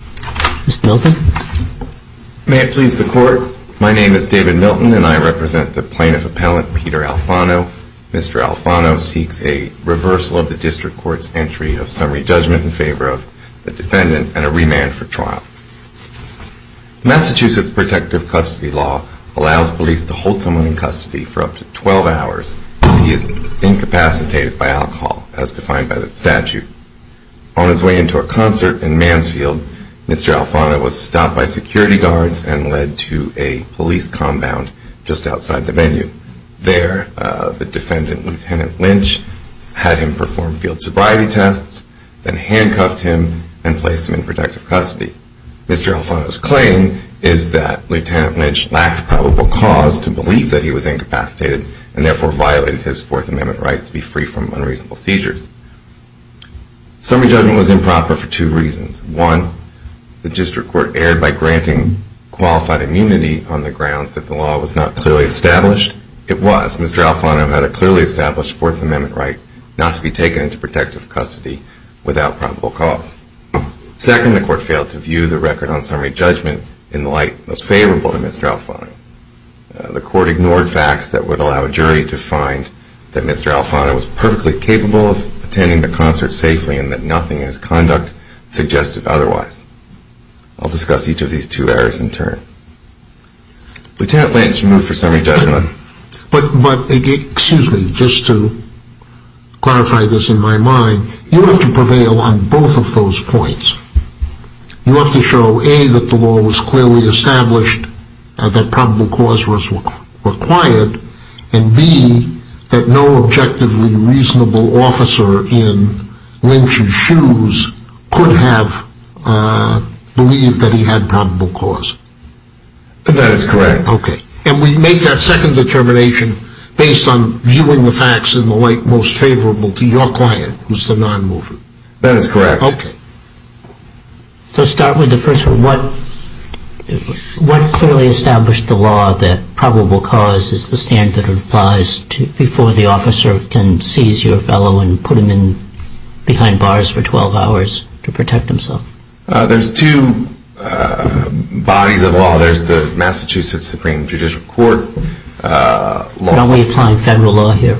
Mr. Milton. May it please the court. My name is David Milton and I represent the plaintiff appellant Peter Alfano. Mr. Alfano seeks a reversal of the district court's entry of summary judgment in favor of the defendant and a remand for trial. Massachusetts protective custody law allows police to hold someone in custody for up to 12 hours if he is incapacitated by alcohol, as defined by the statute. On his way into a concert in Mansfield, Mr. Alfano was stopped by security guards and led to a police compound just outside the venue. There the defendant, Lt. Lynch, had him perform field sobriety tests, then handcuffed him and placed him in protective custody. Mr. Alfano's claim is that Lt. Lynch lacked probable cause to believe that he was incapacitated and therefore violated his Fourth Amendment right to be free from unreasonable seizures. Summary judgment was improper for two reasons. One, the district court erred by granting qualified immunity on the grounds that the law was not clearly established. It was. Mr. Alfano had a clearly established Fourth Amendment right not to be taken into protective custody without probable cause. Second, the court failed to view the record on summary judgment in the light most favorable to Mr. Alfano. The court ignored facts that would allow a jury to find that Mr. Alfano was perfectly capable of attending the concert safely and that nothing in his conduct suggested otherwise. I'll discuss each of these two errors in turn. Lt. Lynch, you're moved for summary judgment. But, excuse me, just to clarify this in my mind, you have to prevail on both of those a, that probable cause was required, and b, that no objectively reasonable officer in Lynch's shoes could have believed that he had probable cause. That is correct. Okay. And we make that second determination based on viewing the facts in the light most favorable to your client, who's the non-mover. That is correct. Okay. So start with the first one. What clearly established the law that probable cause is the standard that applies before the officer can seize your fellow and put him in behind bars for 12 hours to protect himself? There's two bodies of law. There's the Massachusetts Supreme Judicial Court law. Aren't we applying federal law here?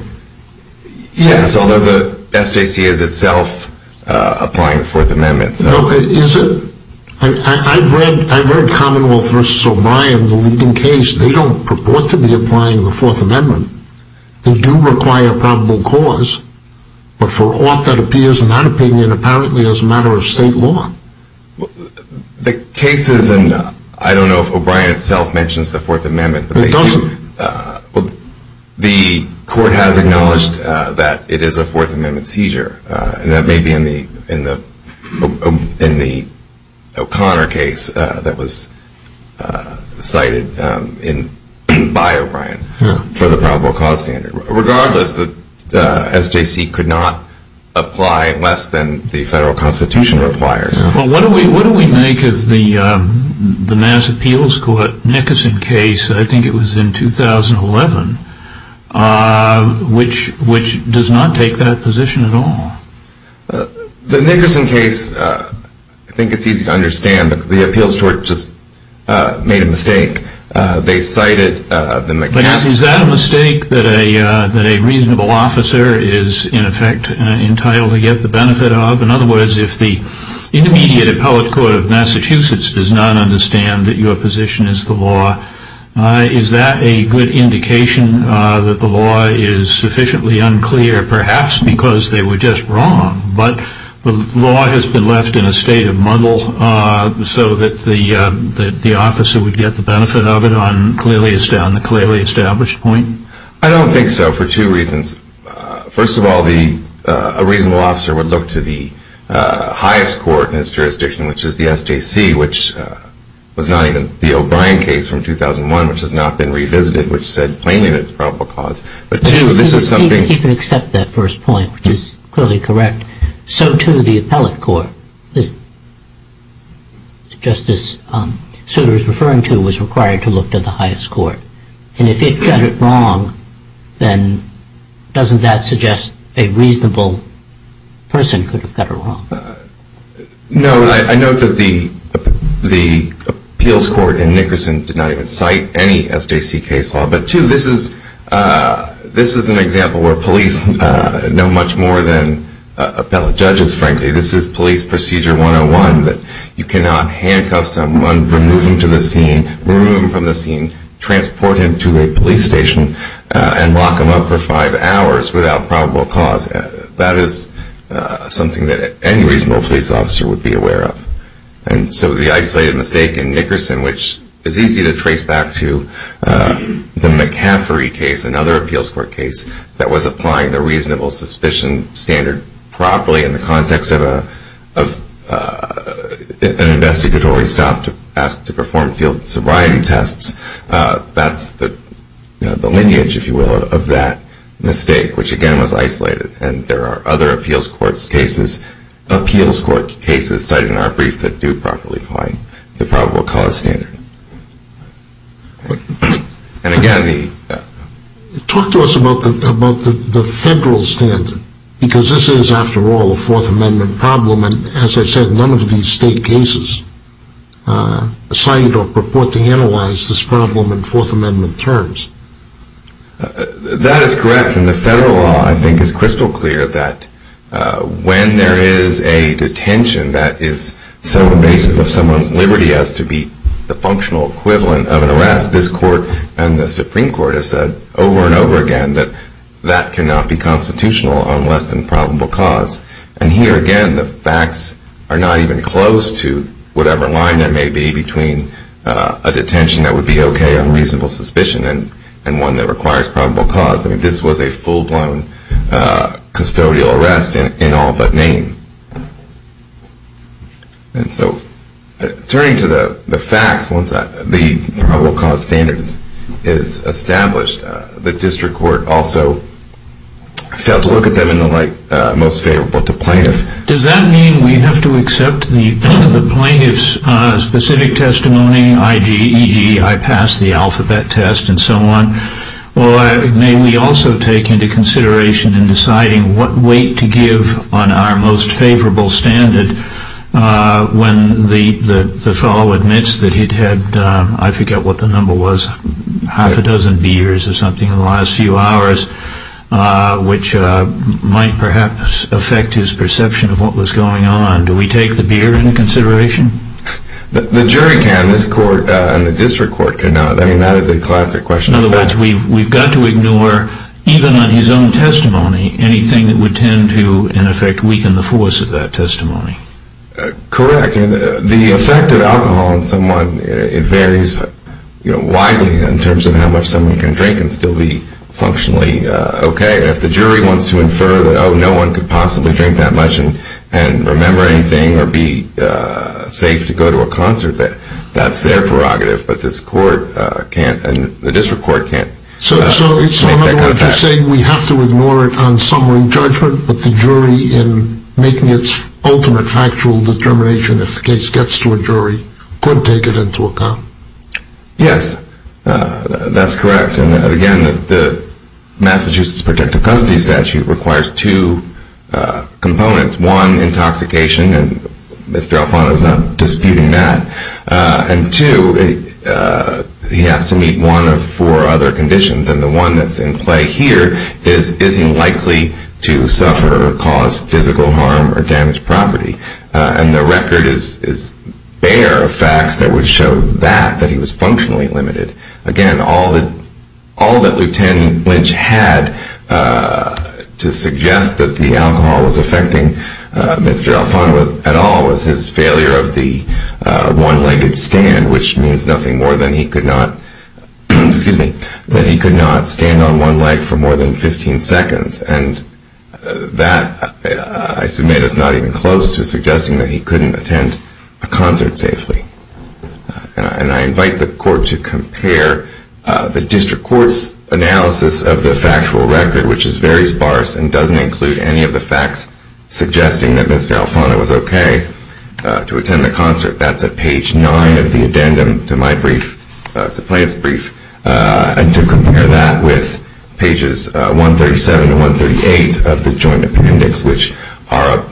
Yes, although the SJC is itself applying the Fourth Amendment. Is it? I've read Commonwealth v. O'Brien, the Lincoln case. They don't purport to be applying the Fourth Amendment. They do require probable cause, but for ought that appears in that opinion apparently as a matter of state law. The case is in, I don't know if O'Brien itself mentions the Fourth Amendment. It doesn't. The court has acknowledged that it is a Fourth Amendment seizure, and that may be in the O'Connor case that was cited by O'Brien for the probable cause standard. Regardless, the SJC could not apply less than the federal constitution requires. What do we make of the Mass Appeals Court Nickerson case, I think it was in 2011, which does not take that position at all? The Nickerson case, I think it's easy to understand, but the appeals court just made a mistake. They cited the McCaskill case. Is that a mistake that a reasonable officer is in effect entitled to get the benefit of? In other words, if the intermediate appellate court of Massachusetts does not understand that your position is the law, is that a good indication that the law is sufficiently unclear, perhaps because they were just wrong, but the law has been left in a state of muddle so that the officer would get the benefit of it on the clearly established point? I don't think so, for two reasons. First of all, a reasonable officer would look to the highest court in his jurisdiction, which is the SJC, which was not even the O'Brien case from 2001, which has not been revisited, which said plainly that it's a probable cause. But two, this is something... He can accept that first point, which is clearly correct. So, too, the appellate court, just as Souter is referring to, was required to look to the highest court. And if it got it wrong, then doesn't that suggest a reasonable person could have got it wrong? No. I note that the appeals court in Nickerson did not even cite any SJC case law. But, two, this is an example where police know much more than appellate judges, frankly. This is police procedure 101 that you cannot handcuff someone, remove them to the scene, remove them from the scene, transport them to a police station, and lock them up for five hours without probable cause. That is something that any reasonable police officer would be aware of. And so the isolated mistake in Nickerson, which is easy to trace back to the McCaffery case, another appeals court case that was applying the reasonable suspicion standard properly in the context of an investigatory stop to ask to perform field sobriety tests, that's the lineage, if you will, of that mistake, which, again, was isolated. And there are other appeals court cases cited in our brief that do properly apply the probable cause standard. And, again, the... Talk to us about the federal standard, because this is, after all, a Fourth Amendment problem, and, as I said, none of these state cases cite or purport to analyze this problem in Fourth Amendment terms. That is correct, and the federal law, I think, is crystal clear that when there is a detention that is so invasive of someone's liberty as to be the functional equivalent of an arrest, as this court and the Supreme Court have said over and over again, that that cannot be constitutional on less than probable cause. And here, again, the facts are not even close to whatever line there may be between a detention that would be okay on reasonable suspicion and one that requires probable cause. I mean, this was a full-blown custodial arrest in all but name. And so, turning to the facts, once the probable cause standard is established, the district court also failed to look at them in the light most favorable to plaintiffs. Does that mean we have to accept the plaintiff's specific testimony, i.g., e.g., I passed the alphabet test and so on? Well, may we also take into consideration in deciding what weight to give on our most favorable standard when the fellow admits that he'd had, I forget what the number was, half a dozen beers or something in the last few hours, which might perhaps affect his perception of what was going on. Do we take the beer into consideration? The jury can. This court and the district court cannot. I mean, that is a classic question. In other words, we've got to ignore, even on his own testimony, anything that would tend to, in effect, weaken the force of that testimony. Correct. The effect of alcohol on someone, it varies widely in terms of how much someone can drink and still be functionally okay. If the jury wants to infer that, oh, no one could possibly drink that much and remember anything or be safe to go to a concert, that's their prerogative. But this court can't and the district court can't. So in other words, you're saying we have to ignore it on summary judgment, but the jury, in making its ultimate factual determination, if the case gets to a jury, could take it into account? Yes, that's correct. And again, the Massachusetts protective custody statute requires two components. One, intoxication, and Mr. Alfano is not disputing that. And two, he has to meet one of four other conditions, and the one that's in play here is, is he likely to suffer or cause physical harm or damage property? And the record is bare of facts that would show that, that he was functionally limited. Again, all that Lieutenant Lynch had to suggest that the alcohol was affecting Mr. Alfano at all was his failure of the one-legged stand, which means nothing more than he could not stand on one leg for more than 15 seconds. And that, I submit, is not even close to suggesting that he couldn't attend a concert safely. And I invite the court to compare the district court's analysis of the factual record, which is very sparse and doesn't include any of the facts suggesting that Mr. Alfano was okay to attend the concert. That's at page nine of the addendum to my brief, to Plaintiff's brief. And to compare that with pages 137 and 138 of the joint appendix, which are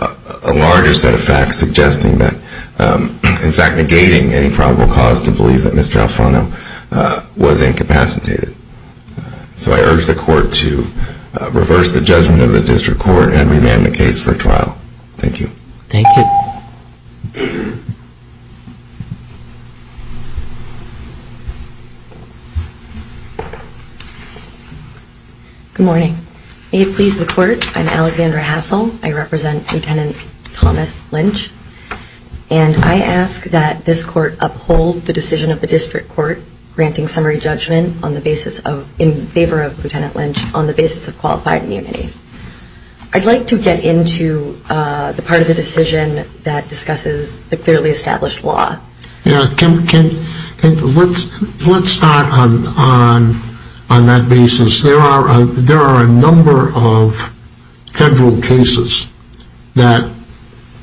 a larger set of facts suggesting that, in fact, negating any probable cause to believe that Mr. Alfano was incapacitated. So I urge the court to reverse the judgment of the district court and remand the case for trial. Thank you. Thank you. Good morning. May it please the court, I'm Alexandra Hassel. I represent Lieutenant Thomas Lynch. And I ask that this court uphold the decision of the district court granting summary judgment on the basis of, in favor of Lieutenant Lynch, on the basis of qualified immunity. I'd like to get into the part of the decision that discusses the clearly established law. Yeah, Kim, let's start on that basis. There are a number of federal cases that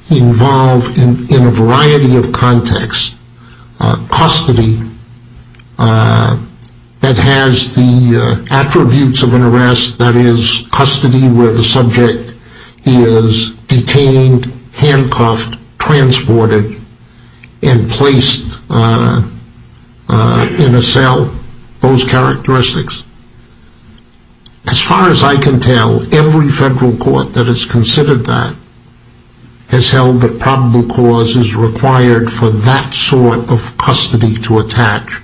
involve, in a variety of contexts, custody that has the attributes of an arrest, that is, custody where the subject is detained, handcuffed, transported, and placed in a cell, those characteristics. As far as I can tell, every federal court that has considered that, has held that probable cause is required for that sort of custody to attach.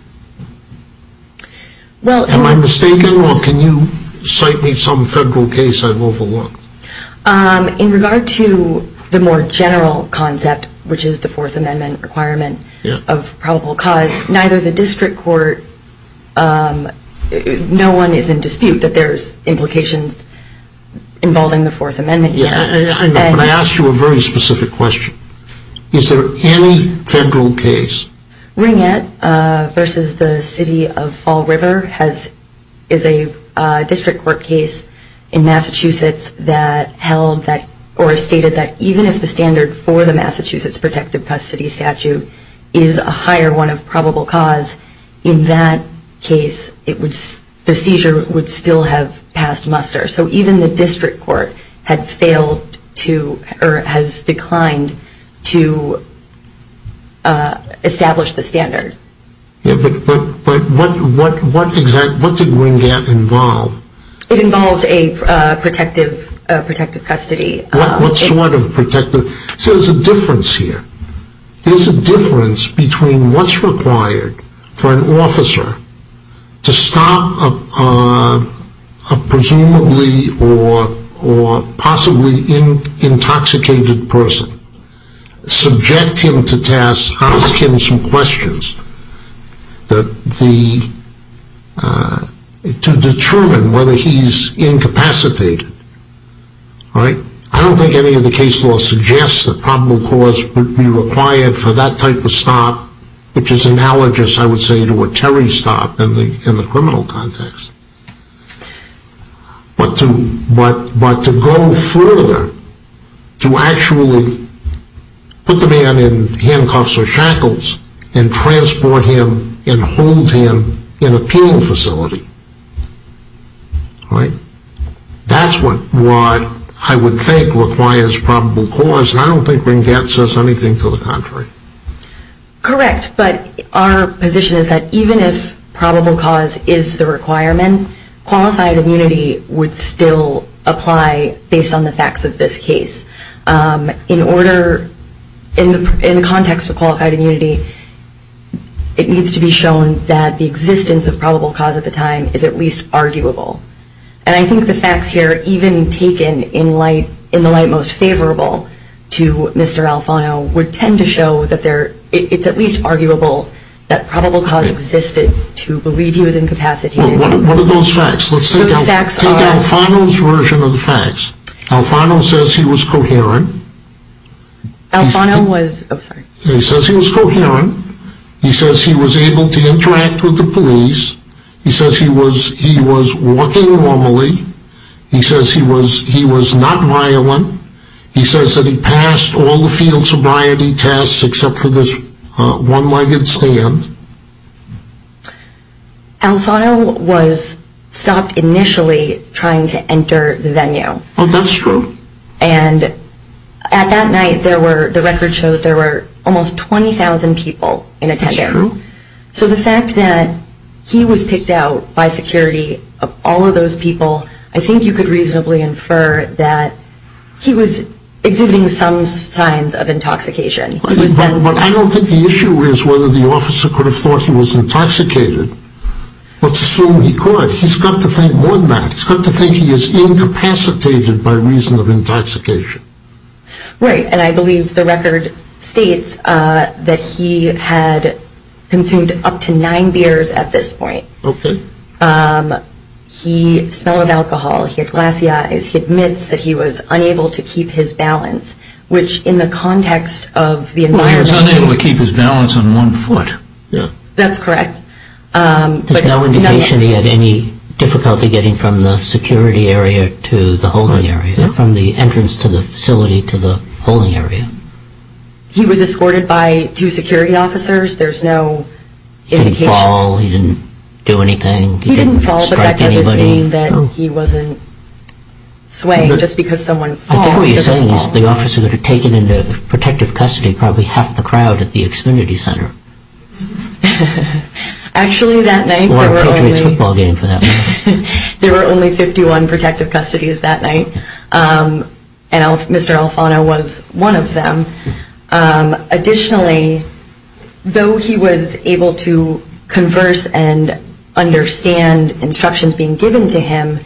Am I mistaken, or can you cite me some federal case I've overlooked? In regard to the more general concept, which is the Fourth Amendment requirement of probable cause, neither the district court, no one is in dispute that there's implications involving the Fourth Amendment. Let me ask you a very specific question. Is there any federal case? Ringett versus the City of Fall River is a district court case in Massachusetts that held that, or stated that even if the standard for the Massachusetts protective custody statute is a higher one of probable cause, in that case the seizure would still have passed muster. So even the district court has declined to establish the standard. But what did Ringett involve? It involved a protective custody. What sort of protective? See, there's a difference here. There's a difference between what's required for an officer to stop a presumably or possibly intoxicated person, subject him to tasks, ask him some questions to determine whether he's incapacitated. I don't think any of the case law suggests that probable cause would be required for that type of stop, which is analogous, I would say, to a Terry stop in the criminal context. But to go further, to actually put the man in handcuffs or shackles and transport him and hold him in a penal facility, that's what I would think requires probable cause, and I don't think Ringett says anything to the contrary. Correct, but our position is that even if probable cause is the requirement, qualified immunity would still apply based on the facts of this case. In order, in the context of qualified immunity, it needs to be shown that the existence of probable cause at the time is at least arguable. And I think the facts here, even taken in the light most favorable to Mr. Alfano, would tend to show that it's at least arguable that probable cause existed to believe he was incapacitated. What are those facts? Let's take Alfano's version of the facts. Alfano says he was coherent. Alfano was, oh, sorry. He says he was coherent. He says he was able to interact with the police. He says he was walking normally. He says he was not violent. He says that he passed all the field sobriety tests except for this one-legged stand. Alfano was stopped initially trying to enter the venue. Oh, that's true. And at that night, the record shows there were almost 20,000 people in attendance. That's true. So the fact that he was picked out by security of all of those people, I think you could reasonably infer that he was exhibiting some signs of intoxication. But I don't think the issue is whether the officer could have thought he was intoxicated. Let's assume he could. He's got to think more than that. He's got to think he is incapacitated by reason of intoxication. Right, and I believe the record states that he had consumed up to nine beers at this point. Okay. He smelled of alcohol. He had glassy eyes. He admits that he was unable to keep his balance, which in the context of the environment. Well, he was unable to keep his balance on one foot. That's correct. There's no indication he had any difficulty getting from the security area to the holding area, from the entrance to the facility to the holding area. He was escorted by two security officers. There's no indication. He didn't fall. He didn't do anything. He didn't fall. He didn't strike anybody. But that doesn't mean that he wasn't swaying just because someone falls. I think what you're saying is the officer would have taken into protective custody probably half the crowd at the Xfinity Center. Actually, that night there were only 51 protective custodies that night, and Mr. Alfano was one of them. Additionally, though he was able to converse and understand instructions being given to him,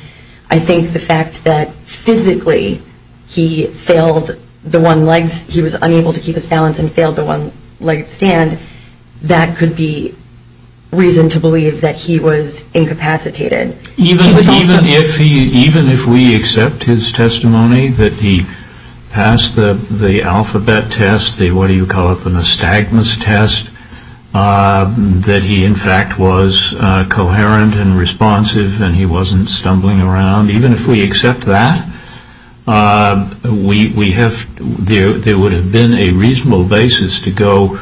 I think the fact that physically he failed the one-legs, he was unable to keep his balance and failed the one-legged stand, that could be reason to believe that he was incapacitated. Even if we accept his testimony that he passed the alphabet test, the what do you call it, the nystagmus test, that he, in fact, was coherent and responsive and he wasn't stumbling around, even if we accept that, there would have been a reasonable basis to go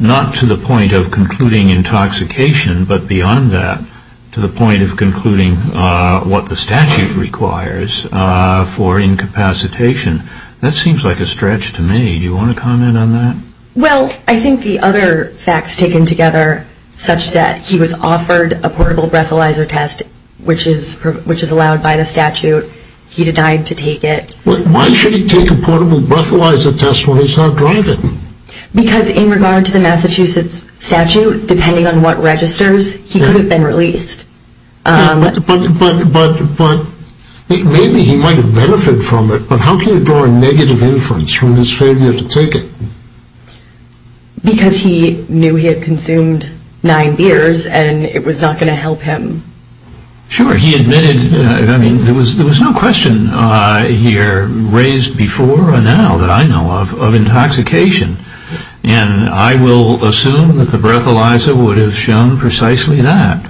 not to the point of concluding intoxication, but beyond that to the point of concluding what the statute requires for incapacitation. That seems like a stretch to me. Do you want to comment on that? Well, I think the other facts taken together, such that he was offered a portable breathalyzer test, which is allowed by the statute, he denied to take it. Why should he take a portable breathalyzer test when he's not driving? Because in regard to the Massachusetts statute, depending on what registers, he could have been released. But maybe he might have benefited from it, but how can you draw a negative inference from his failure to take it? Because he knew he had consumed nine beers and it was not going to help him. Sure, he admitted, I mean, there was no question here raised before or now that I know of, of intoxication, and I will assume that the breathalyzer would have shown precisely that.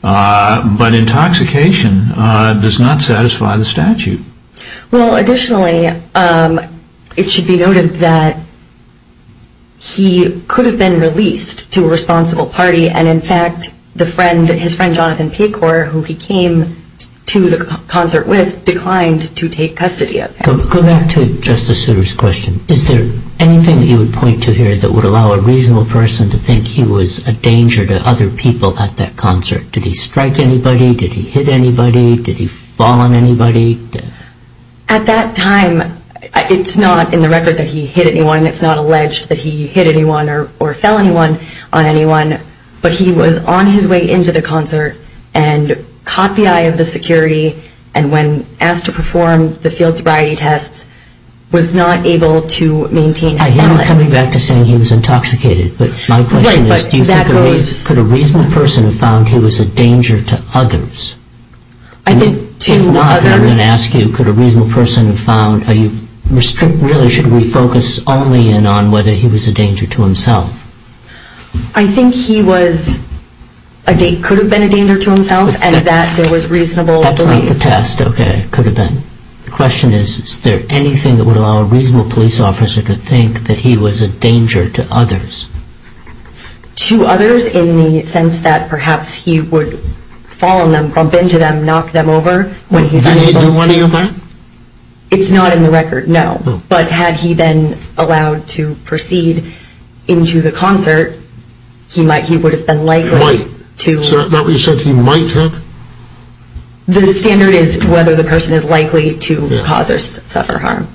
But intoxication does not satisfy the statute. Well, additionally, it should be noted that he could have been released to a responsible party, and, in fact, the friend, his friend Jonathan Pecor, who he came to the concert with, declined to take custody of him. Go back to Justice Souter's question. Is there anything that you would point to here that would allow a reasonable person to think he was a danger to other people at that concert? Did he strike anybody? Did he hit anybody? Did he fall on anybody? At that time, it's not in the record that he hit anyone. It's not alleged that he hit anyone or fell anyone on anyone. But he was on his way into the concert and caught the eye of the security, and when asked to perform the field sobriety tests, was not able to maintain his balance. I hear you coming back to saying he was intoxicated, but my question is, could a reasonable person have found he was a danger to others? If not, then I'm going to ask you, could a reasonable person have found, really, should we focus only in on whether he was a danger to himself? I think he could have been a danger to himself and that there was reasonable belief. That's not the test. Okay. Could have been. The question is, is there anything that would allow a reasonable police officer to think that he was a danger to others? To others in the sense that perhaps he would fall on them, bump into them, knock them over when he's able to. Did he do one of your men? It's not in the record, no. But had he been allowed to proceed into the concert, he would have been likely to. Might. Is that what you said, he might have? The standard is whether the person is likely to cause or suffer harm.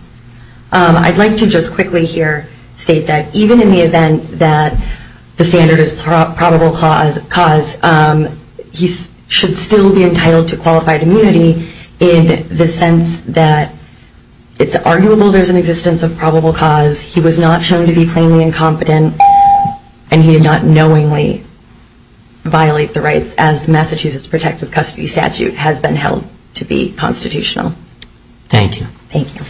I'd like to just quickly here state that even in the event that the standard is probable cause, he should still be entitled to qualified immunity in the sense that it's arguable there's an existence of probable cause. He was not shown to be plainly incompetent and he did not knowingly violate the rights as the Massachusetts Protective Custody Statute has been held to be constitutional. Thank you. Thank you.